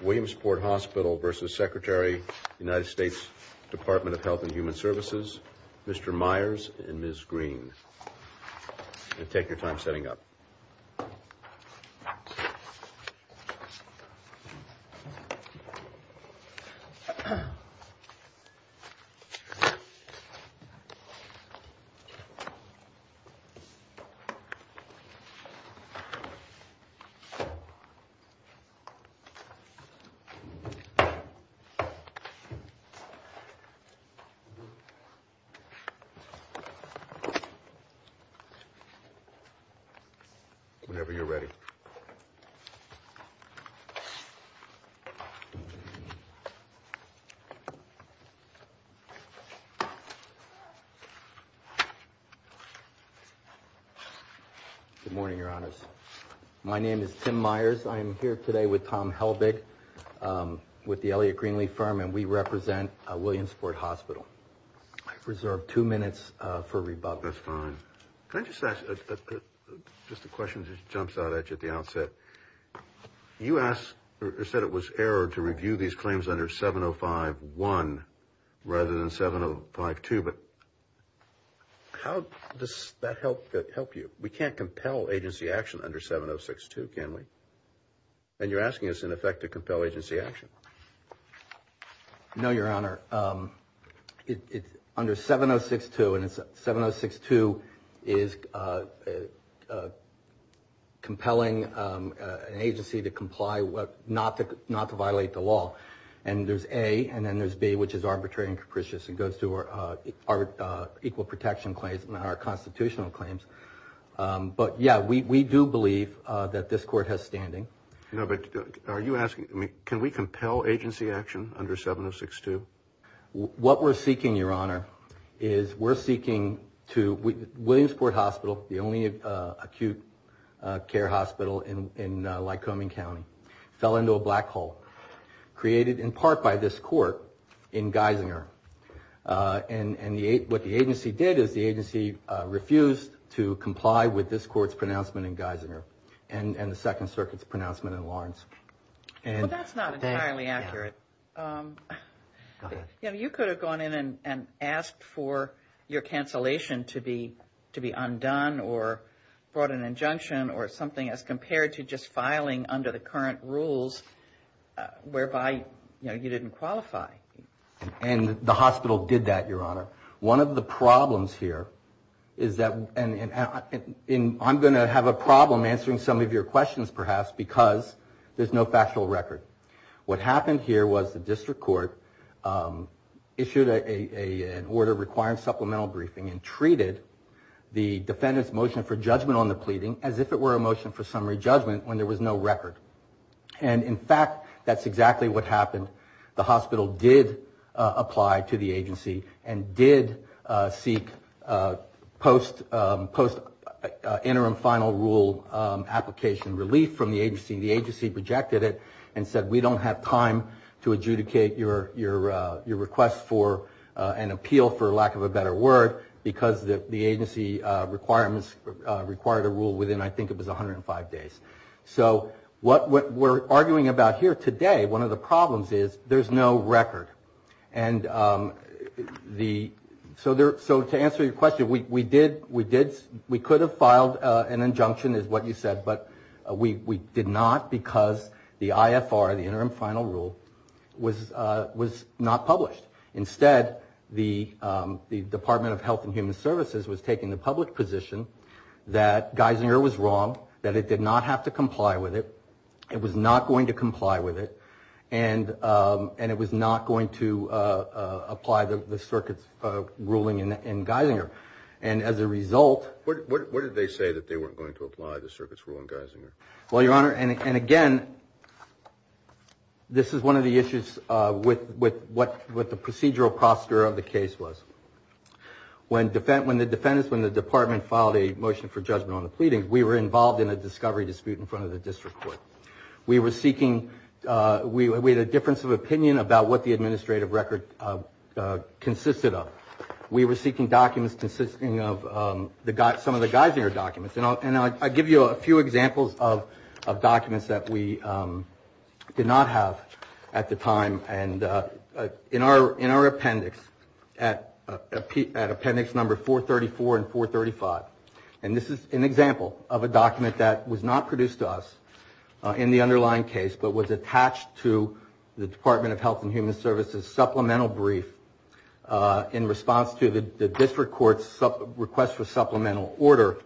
Williamsport Hospital v. Secretary United States Department of Health and Human Services Mr. Myers and Ms. Green. Take your time setting up. Whenever you're ready. Good morning, Your Honors. My name is Tim Myers. I am here today with Tom Helbig with the Elliot Greenlee firm and we represent Williamsport Hospital. I've reserved two minutes for rebuttal. That's fine. Can I just ask, just a question that jumps out at you at the outset. You asked or said it was error to review these claims under 705-1 rather than 705-2, but how does that help you? We can't compel agency action under 706-2, can we? And you're asking us in effect to compel agency action. No, Your Honor. It's under 706-2 and it's 706-2 is compelling an agency to comply with not to violate the law. And there's A and then there's B, which is arbitrary and capricious and goes to our equal protection claims and our constitutional claims. But yeah, we do believe that this court has standing. No, but are you asking, can we compel agency action under 706-2? What we're seeking, Your Honor, is we're seeking to, Williamsport Hospital, the only acute care hospital in Lycoming County, fell into a black hole created in part by this court in Geisinger. And what the agency did is the agency refused to comply with this court's pronouncement in Geisinger and the Second Circuit's pronouncement in Lawrence. Well, that's not entirely accurate. You could have gone in and asked for your cancellation to be undone or brought an injunction or something as compared to just filing under the current rules whereby, you know, you didn't qualify. And the hospital did that, Your Honor. One of the problems here is that, and I'm going to have a problem answering some of your questions perhaps because there's no factual record. What happened here was the district court issued an order requiring supplemental briefing and treated the defendant's motion for judgment on the pleading as if it were a motion for summary judgment when there was no record. And in fact, that's exactly what happened. The hospital did apply to the agency and did seek post-interim final rule application relief from the agency. The agency rejected it and said we don't have time to adjudicate your request for an appeal for lack of a better word because the agency requirements required a rule within I think it was 105 days. So what we're arguing about here today, one of the problems is there's no record. And so to answer your question, we could have filed an injunction is what you said, but we did not because the IFR, the interim final rule, was not published. Instead, the Department of Health and Human Services was taking the public position that Geisinger was wrong, that it did not have to comply with it, it was not going to comply with it, and it was not going to apply the circuit's ruling in Geisinger. And as a result... What did they say that they weren't going to apply the circuit's rule in Geisinger? Well, Your Honor, and again, this is one of the issues with what the procedural prosecutor of the case was. When the defendants, when the department filed a motion for judgment on the pleading, we were involved in a discovery dispute in front of the district court. We were seeking... We had a difference of opinion about what the administrative record consisted of. We were seeking documents consisting of some of the Geisinger documents. And I'll give you a few examples of documents that we did not have at the time. And in our appendix, at appendix number 434 and 435, and this is an example of a document that was not produced to us in the underlying case, but was attached to the Department of Health and Human Services supplemental brief in response to the district court's request for supplemental order.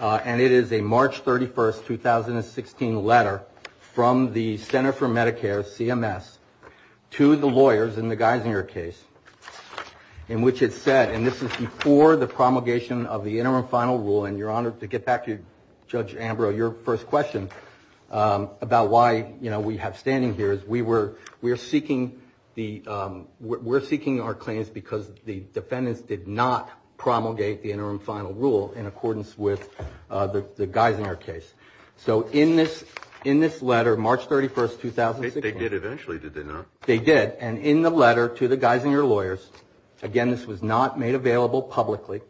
And it is a March 31st, 2016 letter from the Center for Medicare, CMS, to the lawyers in the Geisinger case, in which it said, and this is before the promulgation of the interim final rule, and Your Honor, to get back to Judge Ambrose, your first question about why, you know, we have standing here, is we were seeking the... We're seeking our claims because the defendants did not promulgate the interim final rule in accordance with the Geisinger case. So in this letter, March 31st, 2016... They did eventually, did they not? They did. And in the letter to the Geisinger lawyers, again, this was not made available publicly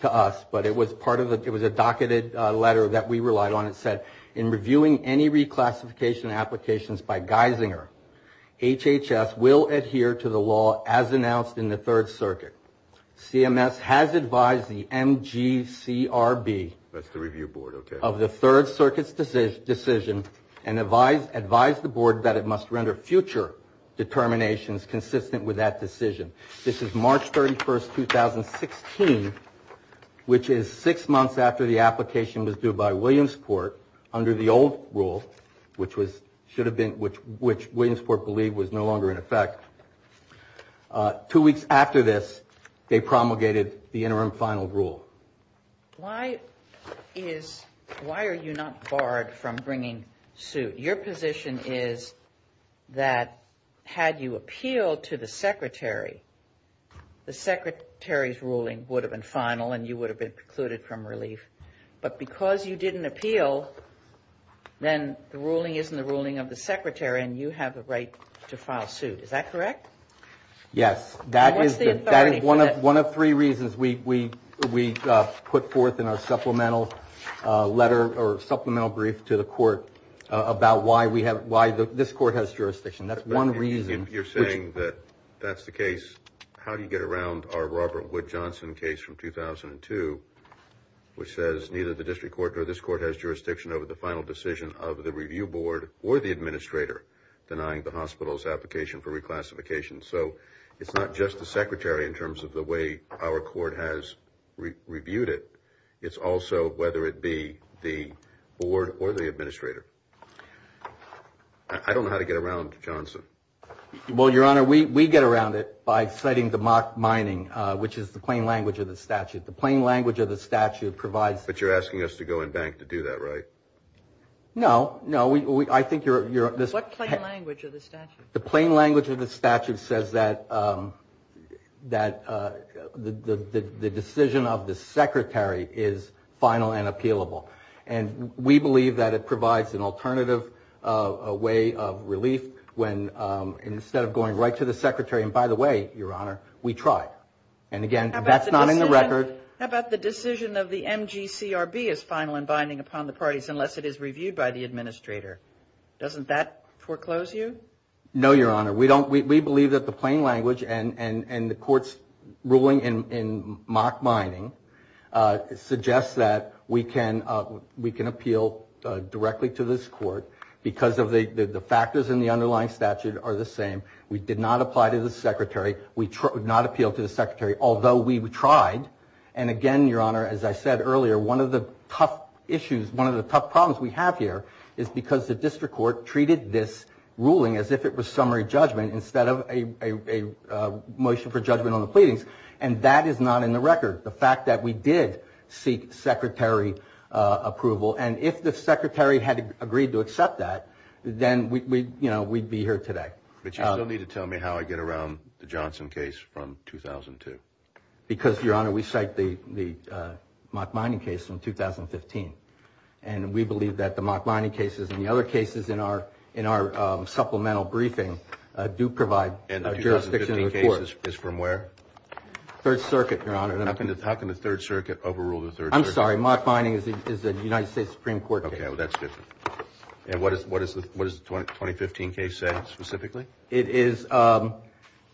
to us, but it was part of the... It was a docketed letter that we relied on. It said, in reviewing any reclassification applications by Geisinger, HHS will adhere to the law as announced in the Third Circuit. CMS has advised the MGCRB... That's the review board, okay. ...of the Third Circuit's decision, and advised the board that it must render future determinations consistent with that decision. This is March 31st, 2016, which is six months after the application was due by Williamsport, under the old rule, which should have been... Which Williamsport believed was no longer in effect. Two weeks after this, they promulgated the interim final rule. Why is... Why are you not barred from bringing suit? Your position is that had you appealed to the secretary, the secretary's ruling would have been final and you would have been precluded from relief. But because you didn't appeal, then the ruling isn't the ruling of the secretary and you have the right to file suit. Is that correct? Yes. That is one of three reasons we put forth in our supplemental letter or supplemental brief to the court about why this court has jurisdiction. That's one reason. You're saying that that's the case. How do you get around our Robert Wood Johnson case from 2002, which says neither the district court nor this court has jurisdiction over the final decision of the review board or the administrator denying the hospital's application for reclassification. So it's not just the secretary in terms of the way our court has reviewed it. It's also whether it be the board or the administrator. I don't know how to get around Johnson. Well, Your Honor, we get around it by citing the mock mining, which is the plain language of the statute. The plain language of the statute provides... But you're asking us to go and bank to do that, right? No. No. I think you're... What plain language of the statute? The plain language of the statute says that the decision of the secretary is final and appealable. And we believe that it provides an alternative way of relief when instead of going right to the secretary, and by the way, Your Honor, we try. And again, that's not in the record. How about the decision of the MGCRB is final and binding upon the parties unless it is foreclose you? No, Your Honor. We believe that the plain language and the court's ruling in mock mining suggests that we can appeal directly to this court because the factors in the underlying statute are the same. We did not apply to the secretary. We did not appeal to the secretary, although we tried. And again, Your Honor, as I said earlier, one of the tough issues, is because the district court treated this ruling as if it was summary judgment instead of a motion for judgment on the pleadings. And that is not in the record, the fact that we did seek secretary approval. And if the secretary had agreed to accept that, then we'd be here today. But you still need to tell me how I get around the Johnson case from 2002. Because, Your Honor, we cite the mock mining case from 2015. And we believe that the mock mining cases and the other cases in our supplemental briefing do provide jurisdiction to the court. And the 2015 case is from where? Third Circuit, Your Honor. How can the Third Circuit overrule the Third Circuit? I'm sorry. Mock mining is the United States Supreme Court case. Okay. Well, that's different. And what does the 2015 case say specifically? It is,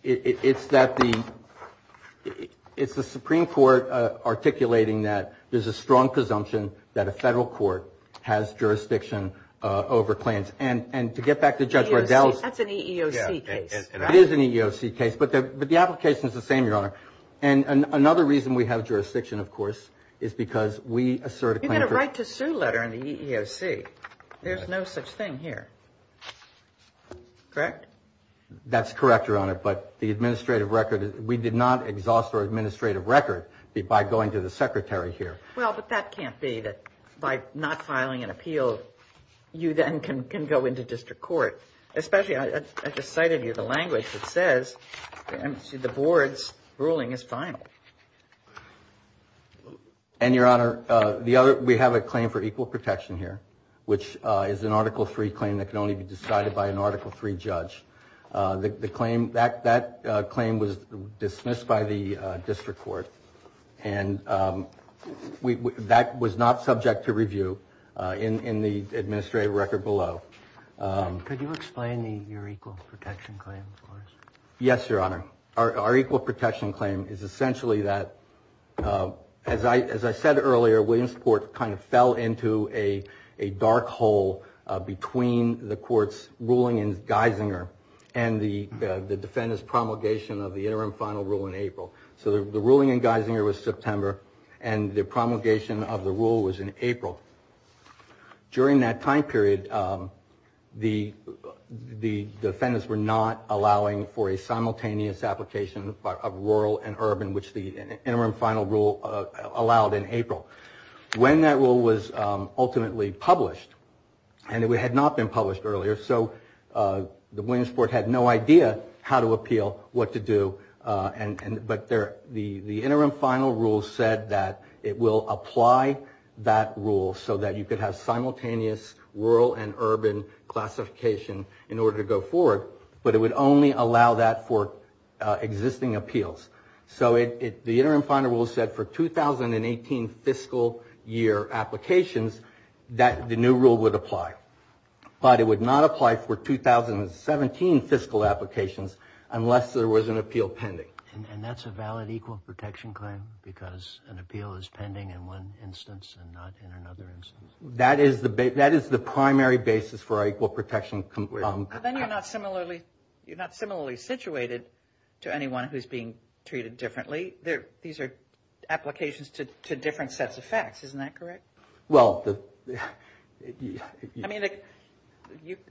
it's that the, it's the Supreme Court articulating that there's a strong presumption that a federal court has jurisdiction over claims. And to get back to Judge Riddell's. That's an EEOC case. It is an EEOC case. But the application is the same, Your Honor. And another reason we have jurisdiction, of course, is because we assert a claim. You get a right to sue letter in the EEOC. There's no such thing here. Correct? That's correct, Your Honor. But the administrative record, we did not exhaust our administrative record by going to the secretary here. Well, but that can't be that by not filing an appeal, you then can go into district court. Especially, I just cited you the language that says, the board's ruling is final. And, Your Honor, the other, we have a claim for equal protection here, which is an Article 3 claim that can only be decided by an Article 3 judge. The claim, that claim was dismissed by the district court. And that was not subject to review in the administrative record below. Could you explain your equal protection claim for us? Yes, Your Honor. Our equal protection claim is essentially that, as I said earlier, Williamsport kind of fell into a dark hole between the court's ruling in Geisinger and the defendant's promulgation of the interim final rule in April. So the ruling in Geisinger was September, and the promulgation of the rule was in April. During that time period, the defendants were not allowing for a simultaneous application of rural and urban, which the interim final rule allowed in April. When that rule was ultimately published, and it had not been published earlier, so the Williamsport had no idea how to appeal, what to do, but the interim final rule said that it will apply that rule so that you could have simultaneous rural and urban classification in order to go forward, but it would only allow that for existing appeals. So the interim final rule said for 2018 fiscal year applications that the new rule would apply. But it would not apply for 2017 fiscal applications unless there was an appeal pending. And that's a valid equal protection claim because an appeal is pending in one instance and not in another instance? That is the primary basis for our equal protection claim. And then you're not similarly situated to anyone who's being treated differently. These are applications to different sets of facts, isn't that correct? I mean,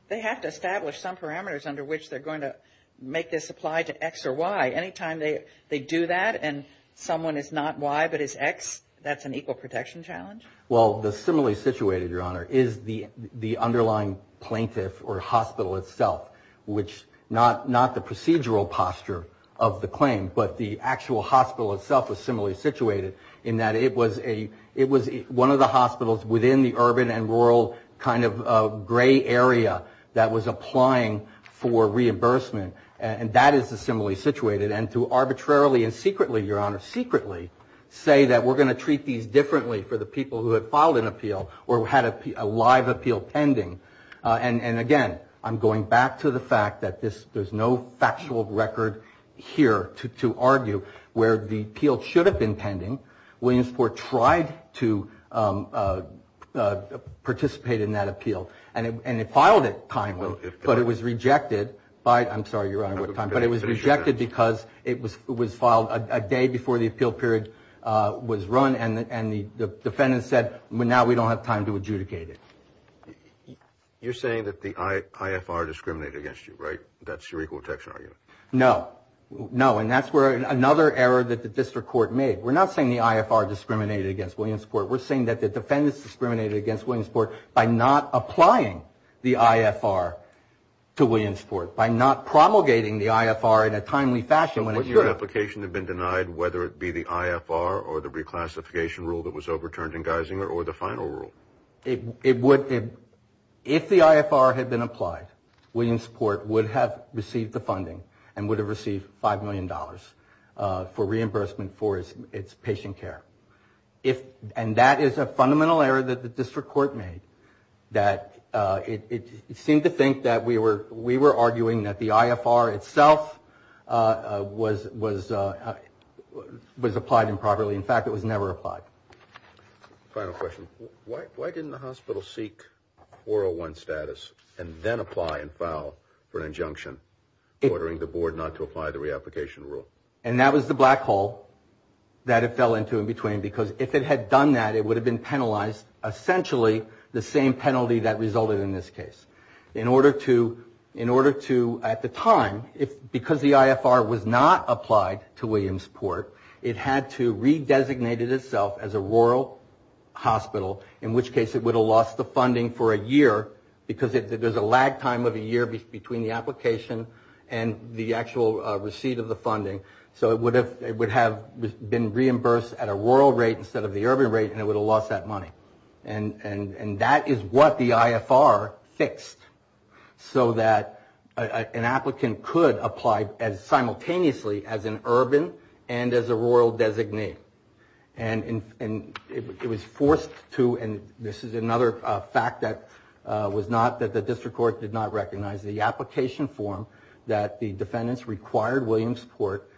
they have to establish some parameters under which they're going to make this apply to X or Y. Any time they do that and someone is not Y but is X, that's an equal protection challenge? Well, the similarly situated, Your Honor, is the underlying plaintiff or hospital itself. Which not the procedural posture of the claim, but the actual hospital itself is similarly situated in that it was one of the hospitals within the urban and rural kind of gray area that was applying for reimbursement. And that is the similarly situated. And to arbitrarily and secretly, Your Honor, secretly say that we're going to appeal to people who had filed an appeal or had a live appeal pending. And again, I'm going back to the fact that there's no factual record here to argue where the appeal should have been pending. Williamsport tried to participate in that appeal. And it filed it kindly. But it was rejected by, I'm sorry, Your Honor, but it was rejected because it was filed a day before the appeal period was run. And the defendant said, well, now we don't have time to adjudicate it. You're saying that the IFR discriminated against you, right? That's your equal protection argument? No. No. And that's where another error that the district court made. We're not saying the IFR discriminated against Williamsport. We're saying that the defendants discriminated against Williamsport by not applying the IFR to Williamsport, by not promulgating the IFR in a timely fashion when it should. So wouldn't your application have been denied whether it be the IFR or the reclassification rule that was overturned in Geisinger or the final rule? It would. If the IFR had been applied, Williamsport would have received the funding and would have received $5 million for reimbursement for its patient care. And that is a fundamental error that the district court made. That it seemed to think that we were arguing that the IFR itself was applied improperly. In fact, it was never applied. Final question. Why didn't the hospital seek 401 status and then apply and file for an injunction ordering the board not to apply the reapplication rule? And that was the black hole that it fell into in between because if it had done that, it would have been penalized. Essentially the same penalty that resulted in this case. In order to, at the time, because the IFR was not applied to Williamsport, it had to redesignate it itself as a rural hospital, in which case it would have lost the funding for a year because there's a lag time of a year between the application and the actual receipt of the funding. So it would have been reimbursed at a rural rate instead of the urban rate and it would have lost that money. And that is what the IFR fixed so that an applicant could apply simultaneously as an urban and as a rural designee. And it was forced to, and this is another fact that the district court did not recognize, the application form that the defendants required Williamsport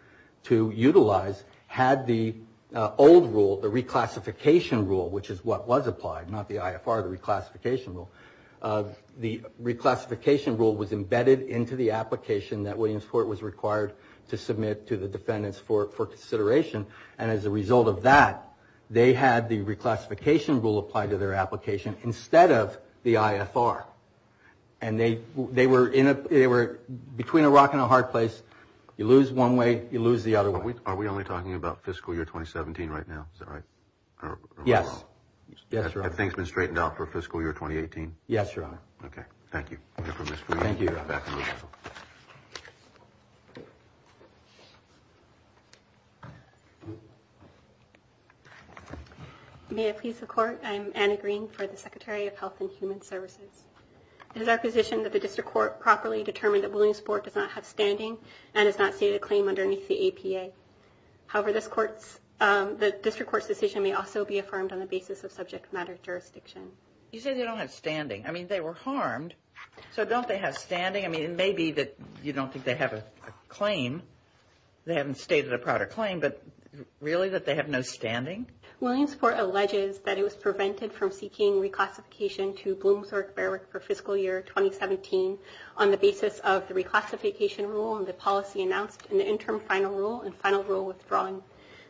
to utilize had the old rule, the reclassification rule, which is what was applied, not the IFR, the reclassification rule. The reclassification rule was embedded into the application that Williamsport was required to submit to the defendants for consideration. And as a result of that, they had the reclassification rule applied to their application instead of the IFR. And they were in a, they were between a rock and a hard place. You lose one way, you lose the other way. Are we only talking about fiscal year 2017 right now? Is that right? Yes. Have things been straightened out for fiscal year 2018? Yes, Your Honor. Okay. Thank you. Thank you. May it please the Court, I'm Anna Green for the Secretary of Health and Human Services. It is our position that the district court properly determine that Williamsport does not have standing and has not stated a claim underneath the APA. However, this court's, the district court's decision may also be affirmed on the basis of subject matter jurisdiction. You say they don't have standing. I mean, they were harmed. So don't they have standing? I mean, it may be that you don't think they have a claim, they haven't stated a prior claim, but really that they have no standing? Williamsport alleges that it was prevented from seeking reclassification to Bloomsburg-Bearwick for fiscal year 2017 on the basis of the reclassification rule and the policy announced in the interim final rule and final rule withdrawing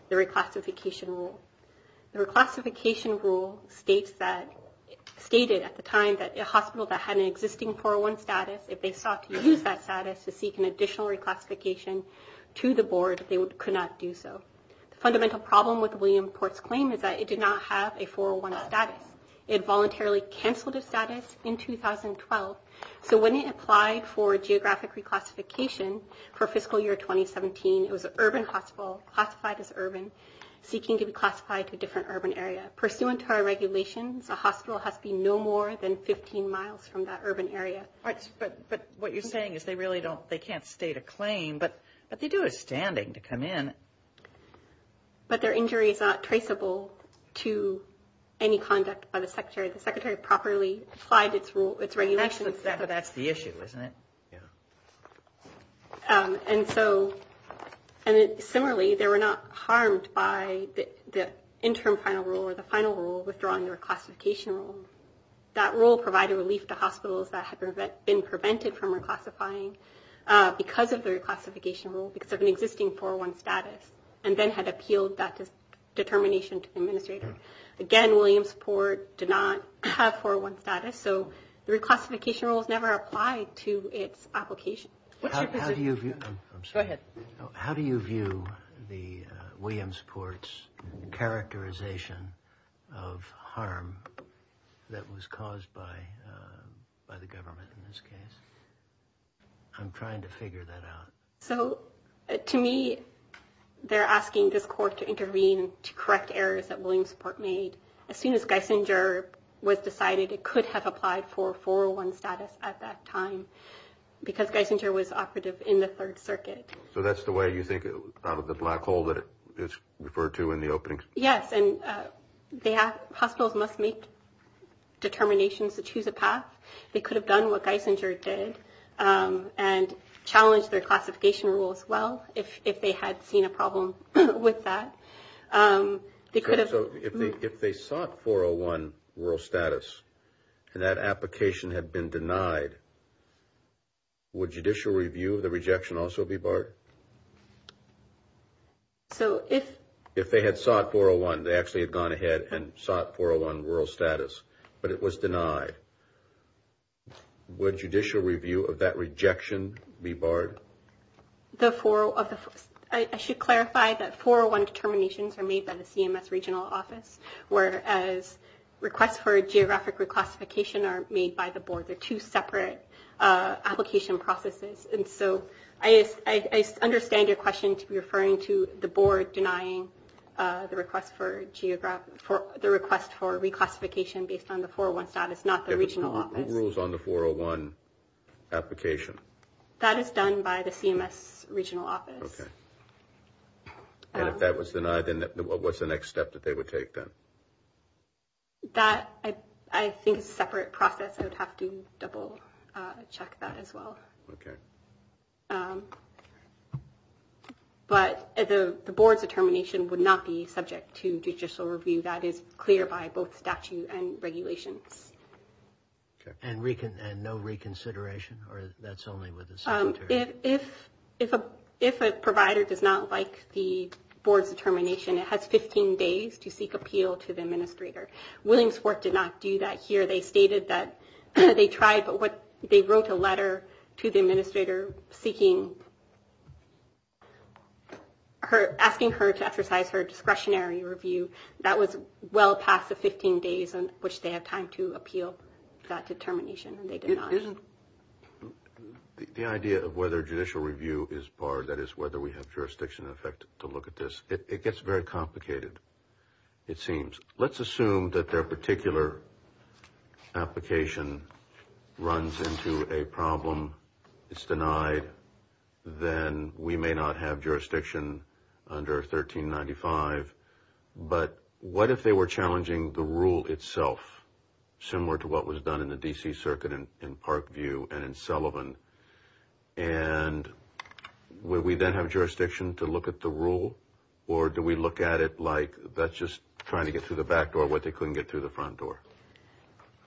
the reclassification rule. The reclassification rule states that, stated at the time that a hospital that had an existing 401 status, if they sought to use that status to seek an additional reclassification to the board, they could not do so. The fundamental problem with Williamsport's claim is that it did not have a 401 status. It voluntarily canceled a status in 2012. So when it applied for geographic reclassification for fiscal year 2017, it was an urban hospital, classified as urban, seeking to be classified to a different urban area. Pursuant to our regulations, a hospital has to be no more than 15 miles from that urban area. But what you're saying is they really don't, they can't state a claim, but they do have standing to come in. But their injury is not traceable to any conduct by the secretary. The secretary properly applied its regulations. But that's the issue, isn't it? And so, similarly, they were not harmed by the interim final rule or the final rule withdrawing the reclassification rule. That rule provided relief to hospitals that had been prevented from reclassifying because of the reclassification rule, because of an existing 401 status, and then had appealed that determination to the administrator. Again, Williamsport did not have 401 status. So the reclassification rules never applied to its application. How do you view the Williamsport's characterization of harm that was caused by the government in this case? I'm trying to figure that out. So to me, they're asking this court to intervene to correct errors that Williamsport made. As soon as Geisinger was decided, it could have applied for 401 status at that time, because Geisinger was operative in the Third Circuit. So that's the way you think out of the black hole that it's referred to in the opening? Yes, and hospitals must make determinations to choose a path. They could have done what Geisinger did and challenged their classification rule as well if they had seen a problem with that. So if they sought 401 rural status and that application had been denied, would judicial review of the rejection also be barred? If they had sought 401, they actually had gone ahead and sought 401 rural status, but it was denied. Would judicial review of that rejection be barred? I should clarify that 401 determinations are made by the CMS regional office, whereas requests for geographic reclassification are made by the board. They're two separate application processes. And so I understand your question to be referring to the board denying the request for reclassification based on the 401 status, not the regional office. Who rules on the 401 application? That is done by the CMS regional office. Okay. And if that was denied, then what's the next step that they would take then? That, I think, is a separate process. I would have to double check that as well. Okay. But the board's determination would not be subject to judicial review. That is clear by both statute and regulations. And no reconsideration, or that's only with the secretary? If a provider does not like the board's determination, it has 15 days to seek appeal to the administrator. Williamsport did not do that here. They stated that they tried, but they wrote a letter to the administrator asking her to exercise her discretionary review. That was well past the 15 days in which they had time to appeal that determination, and they did not. The idea of whether judicial review is barred, that is, whether we have jurisdiction in effect to look at this, it gets very complicated, it seems. Let's assume that their particular application runs into a problem, it's denied, then we may not have jurisdiction under 1395. But what if they were challenging the rule itself, similar to what was done in the D.C. Circuit in Parkview and in Sullivan? And would we then have jurisdiction to look at the rule? Or do we look at it like that's just trying to get through the back door, what they couldn't get through the front door?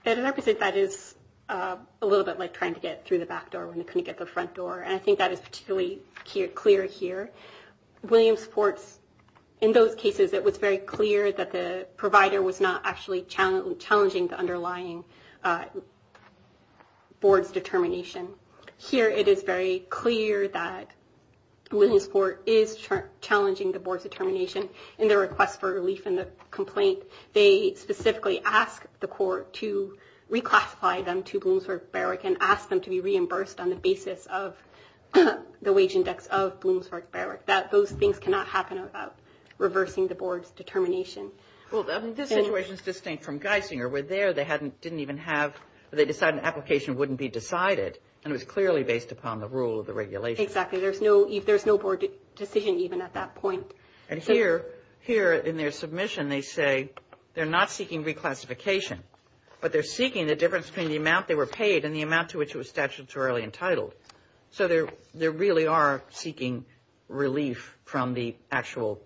I would say that is a little bit like trying to get through the back door when they couldn't get the front door. And I think that is particularly clear here. In those cases, it was very clear that the provider was not actually challenging the underlying board's determination. Here it is very clear that Williamsport is challenging the board's determination in their request for relief in the complaint. They specifically ask the court to reclassify them to Williamsport Barrick and ask them to be reimbursed on the basis of the wage index of Williamsport Barrick. Those things cannot happen without reversing the board's determination. Well, this situation is distinct from Geisinger, where there they decided an application wouldn't be decided, and it was clearly based upon the rule of the regulation. Exactly. There's no board decision even at that point. And here, in their submission, they say they're not seeking reclassification, but they're seeking the difference between the amount they were paid and the amount to which it was statutorily entitled. So they really are seeking relief from the actual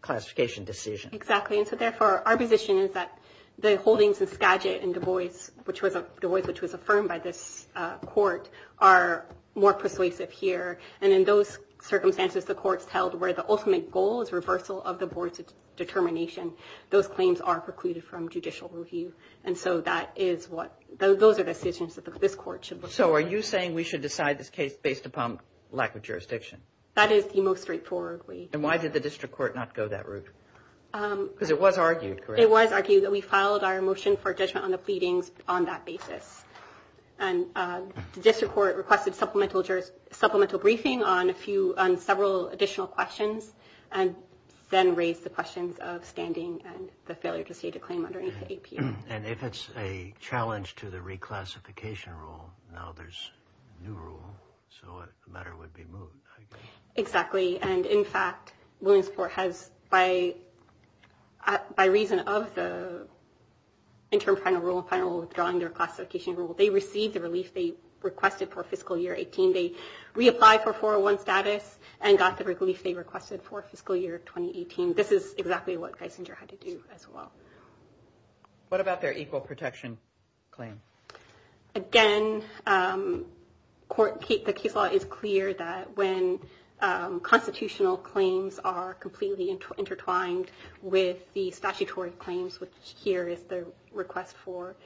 classification decision. Exactly. And so, therefore, our position is that the holdings in Skagit and Du Bois, which was affirmed by this court, are more persuasive here. And in those circumstances, the courts held where the ultimate goal is reversal of the board's determination, those claims are precluded from judicial review. And so that is what those are decisions that this court should look at. So are you saying we should decide this case based upon lack of jurisdiction? That is the most straightforward way. And why did the district court not go that route? Because it was argued, correct? It was argued that we filed our motion for judgment on the pleadings on that basis. And the district court requested supplemental briefing on several additional questions and then raised the questions of standing and the failure to state a claim under APU. And if it's a challenge to the reclassification rule, now there's a new rule, so the matter would be moved. Exactly. And in fact, Williamsport has, by reason of the interim final rule, withdrawing their classification rule, they received the relief they requested for fiscal year 18. They reapplied for 401 status and got the relief they requested for fiscal year 2018. This is exactly what Geisinger had to do as well. What about their equal protection claim? Again, the case law is clear that when constitutional claims are completely intertwined with the statutory claims, which here is the request for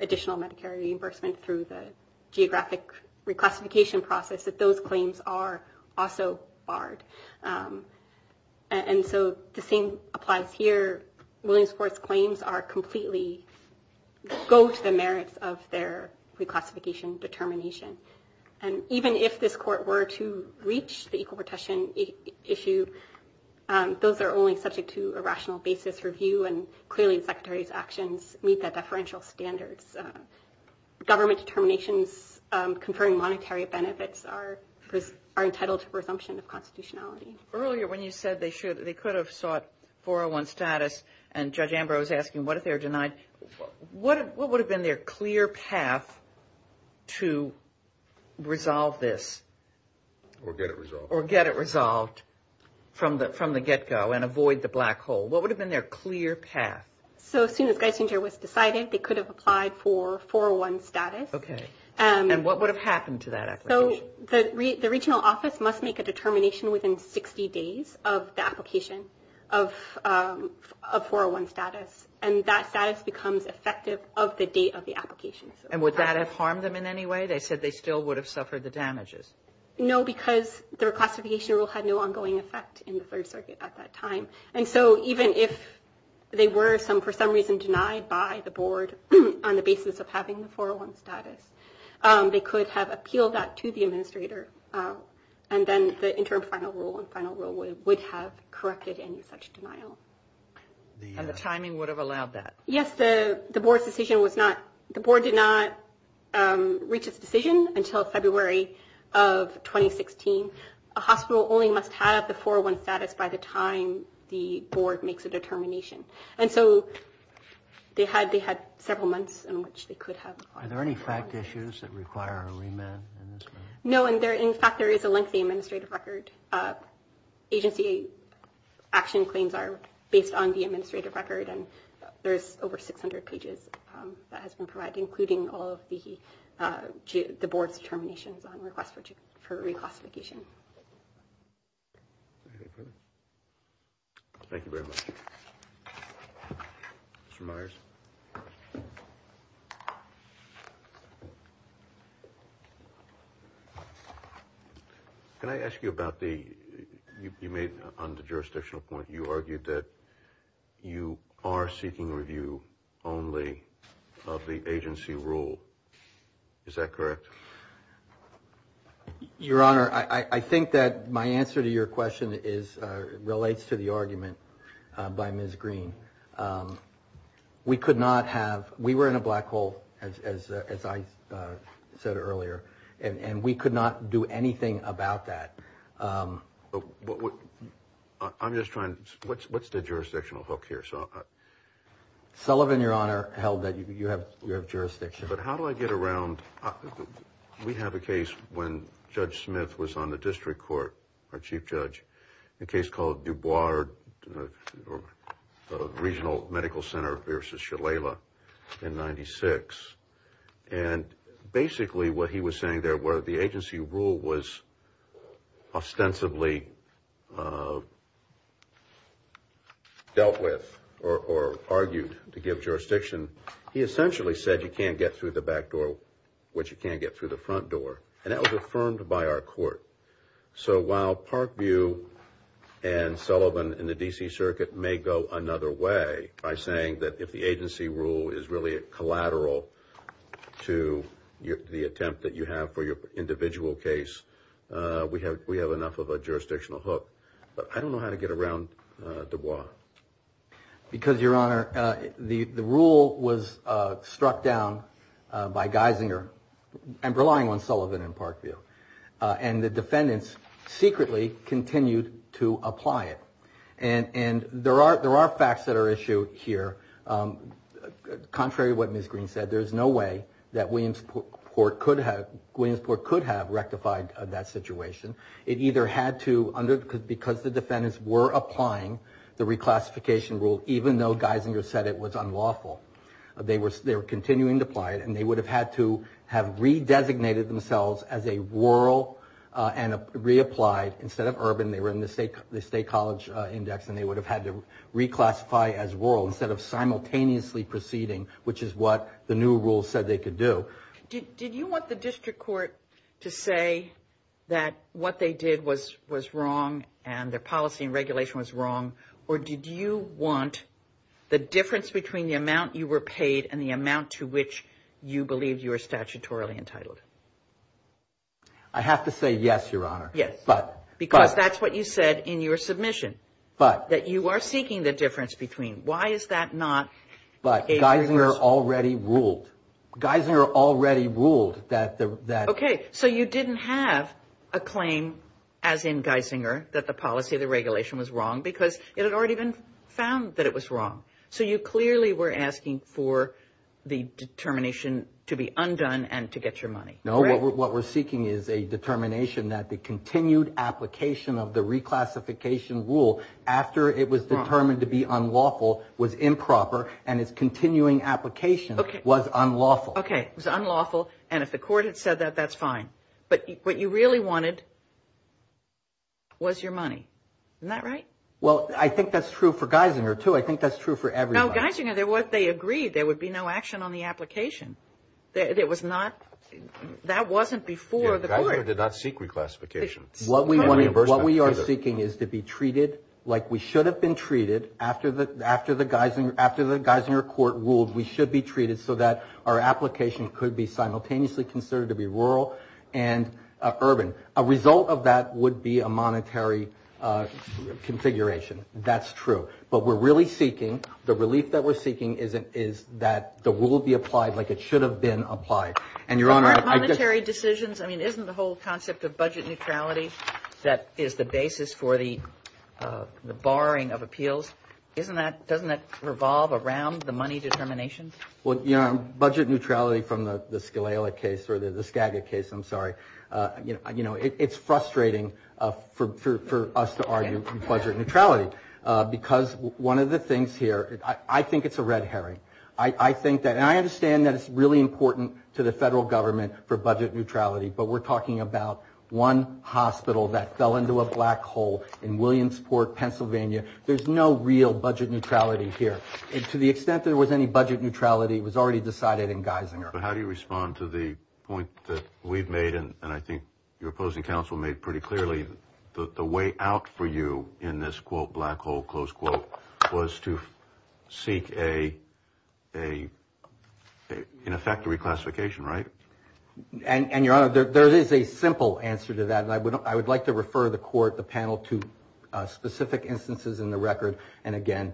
additional medicare reimbursement through the geographic reclassification process, that those claims are also barred. And so the same applies here. Williamsport's claims are completely go to the merits of their reclassification determination. And even if this court were to reach the equal protection issue, those are only subject to a rational basis review. And clearly, the secretary's actions meet that deferential standards. Government determinations conferring monetary benefits are entitled to resumption of constitutionality. Earlier when you said they could have sought 401 status and Judge Ambrose asking what if they're denied, what would have been their clear path to resolve this? Or get it resolved. Or get it resolved from the get-go and avoid the black hole. What would have been their clear path? As soon as Geisinger was decided, they could have applied for 401 status. Okay. And what would have happened to that application? The regional office must make a determination within 60 days of the application of 401 status. And that status becomes effective of the date of the application. And would that have harmed them in any way? They said they still would have suffered the damages. No, because the reclassification rule had no ongoing effect in the Third Circuit at that time. And so even if they were for some reason denied by the board on the basis of having the 401 status, they could have appealed that to the administrator. And then the interim final rule and final rule would have corrected any such denial. And the timing would have allowed that? Yes. The board's decision was not – the board did not reach its decision until February of 2016. A hospital only must have the 401 status by the time the board makes a determination. And so they had several months in which they could have. Are there any fact issues that require a remand in this regard? No. In fact, there is a lengthy administrative record. Agency action claims are based on the administrative record. There is over 600 pages that has been provided, including all of the board's determinations on request for reclassification. Thank you very much. Mr. Myers? Can I ask you about the – you made – on the jurisdictional point, you argued that you are seeking review only of the agency rule. Is that correct? Your Honor, I think that my answer to your question is – relates to the argument by Ms. Green. We could not have – we were in a black hole, as I said earlier, and we could not do anything about that. I'm just trying – what's the jurisdictional hook here? Sullivan, Your Honor, held that you have jurisdiction. But how do I get around – we have a case when Judge Smith was on the district court, our chief judge, a case called Dubois Regional Medical Center v. Shalala in 1996. And basically what he was saying there, where the agency rule was ostensibly dealt with or argued to give jurisdiction, he essentially said you can't get through the back door, which you can get through the front door. And that was affirmed by our court. So while Parkview and Sullivan in the D.C. Circuit may go another way by saying that if the agency rule is really collateral to the attempt that you have for your individual case, we have enough of a jurisdictional hook. But I don't know how to get around Dubois. Because, Your Honor, the rule was struck down by Geisinger and relying on Sullivan and Parkview. And the defendants secretly continued to apply it. And there are facts that are at issue here. Contrary to what Ms. Green said, there is no way that Williamsport could have rectified that situation. It either had to – because the defendants were applying the reclassification rule even though Geisinger said it was unlawful. They were continuing to apply it. And they would have had to have redesignated themselves as a rural and reapplied instead of urban. They were in the State College Index. And they would have had to reclassify as rural instead of simultaneously proceeding, which is what the new rule said they could do. Did you want the district court to say that what they did was wrong and their policy and regulation was wrong? Or did you want the difference between the amount you were paid and the amount to which you believe you are statutorily entitled? I have to say yes, Your Honor. Yes. But – but – Because that's what you said in your submission. But – That you are seeking the difference between. Why is that not a – But Geisinger already ruled. Geisinger already ruled that the – that – It had already been found that it was wrong. So you clearly were asking for the determination to be undone and to get your money. No. Right? What we're seeking is a determination that the continued application of the reclassification rule after it was determined to be unlawful was improper. And its continuing application was unlawful. Okay. It was unlawful. And if the court had said that, that's fine. But what you really wanted was your money. Isn't that right? Well, I think that's true for Geisinger, too. I think that's true for everybody. No, Geisinger, they agreed there would be no action on the application. It was not – that wasn't before the court. Geisinger did not seek reclassification. What we are seeking is to be treated like we should have been treated after the Geisinger court ruled we should be treated so that our application could be simultaneously considered to be rural and urban. A result of that would be a monetary configuration. That's true. But we're really seeking – the relief that we're seeking is that the rule be applied like it should have been applied. And, Your Honor – Aren't monetary decisions – I mean, isn't the whole concept of budget neutrality that is the basis for the barring of appeals? Isn't that – doesn't that revolve around the money determination? Well, Your Honor, budget neutrality from the Scalela case – or the Skagit case, I'm sorry. You know, it's frustrating for us to argue budget neutrality because one of the things here – I think it's a red herring. I think that – and I understand that it's really important to the federal government for budget neutrality, but we're talking about one hospital that fell into a black hole in Williamsport, Pennsylvania. There's no real budget neutrality here. To the extent there was any budget neutrality, it was already decided in Geisinger. But how do you respond to the point that we've made, and I think your opposing counsel made pretty clearly, that the way out for you in this, quote, black hole, close quote, was to seek a – in effect, a reclassification, right? And, Your Honor, there is a simple answer to that. I would like to refer the court, the panel, to specific instances in the record, and again,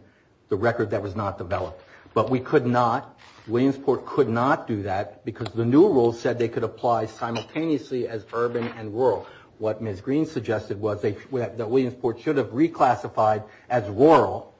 the record that was not developed. But we could not – Williamsport could not do that because the new rule said they could apply simultaneously as urban and rural. What Ms. Green suggested was that Williamsport should have reclassified as rural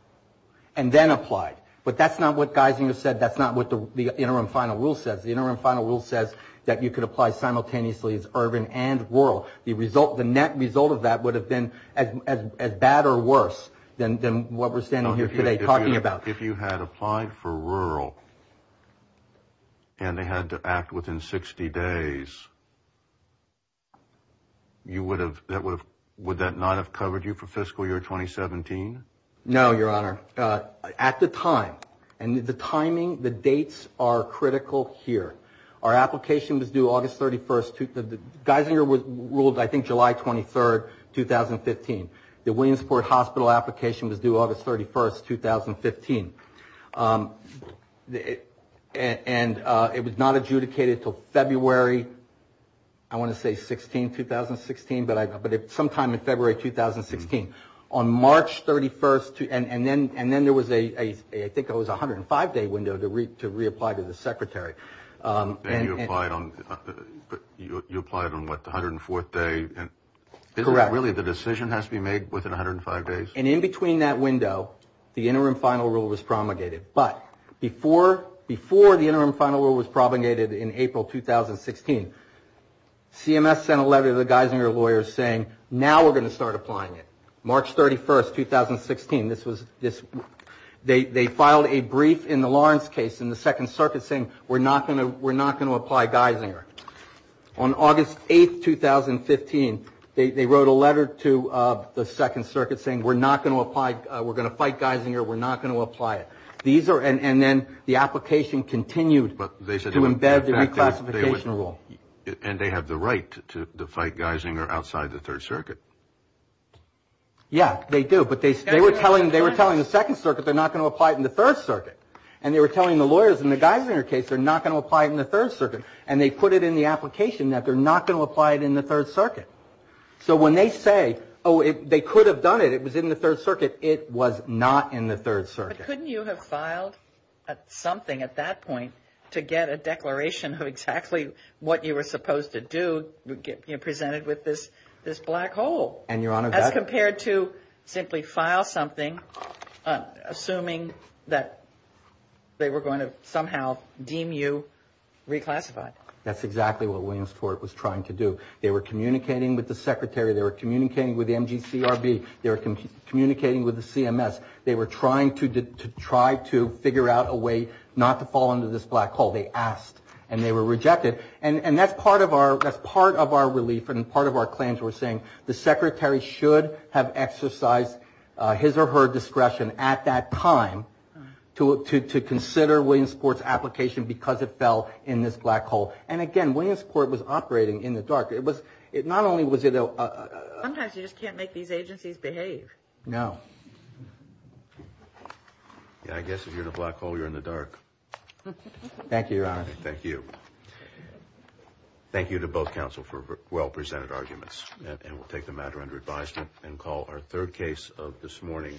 and then applied. But that's not what Geisinger said. That's not what the interim final rule says. The interim final rule says that you could apply simultaneously as urban and rural. The net result of that would have been as bad or worse than what we're standing here today talking about. If you had applied for rural and they had to act within 60 days, would that not have covered you for fiscal year 2017? No, Your Honor. At the time, and the timing, the dates are critical here. Our application was due August 31st – Geisinger ruled, I think, July 23rd, 2015. The Williamsport Hospital application was due August 31st, 2015. And it was not adjudicated until February, I want to say, 16, 2016, but sometime in February 2016. On March 31st – and then there was a – I think it was a 105-day window to reapply to the secretary. And you applied on – you applied on what, the 104th day? Correct. Really, the decision has to be made within 105 days? And in between that window, the interim final rule was promulgated. But before the interim final rule was promulgated in April 2016, CMS sent a letter to the Geisinger lawyers saying, now we're going to start applying it. March 31st, 2016, this was – they filed a brief in the Lawrence case in the Second Circuit saying, we're not going to apply Geisinger. On August 8th, 2015, they wrote a letter to the Second Circuit saying, we're not going to apply – we're going to fight Geisinger, we're not going to apply it. These are – and then the application continued to embed the reclassification rule. And they have the right to fight Geisinger outside the Third Circuit. Yes, they do. But they were telling the Second Circuit, they're not going to apply it in the Third Circuit. And they were telling the lawyers in the Geisinger case, they're not going to apply it in the Third Circuit. And they put it in the application that they're not going to apply it in the Third Circuit. So when they say, oh, it – they could have done it, it was in the Third Circuit, it was not in the Third Circuit. But couldn't you have filed something at that point to get a declaration of exactly what you were supposed to do presented with this black hole? And, Your Honor, that – As compared to simply file something assuming that they were going to somehow deem you reclassified. That's exactly what Williamsport was trying to do. They were communicating with the Secretary. They were communicating with the MGCRB. They were communicating with the CMS. They were trying to – to try to figure out a way not to fall into this black hole. They asked. And they were rejected. And that's part of our – that's part of our relief and part of our claims. We're saying the Secretary should have exercised his or her discretion at that time to consider Williamsport's application because it fell in this black hole. And, again, Williamsport was operating in the dark. It was – not only was it a – Sometimes you just can't make these agencies behave. No. I guess if you're in a black hole, you're in the dark. Thank you, Your Honor. Thank you. Thank you to both counsel for well-presented arguments. And we'll take the matter under advisement and call our third case of this morning.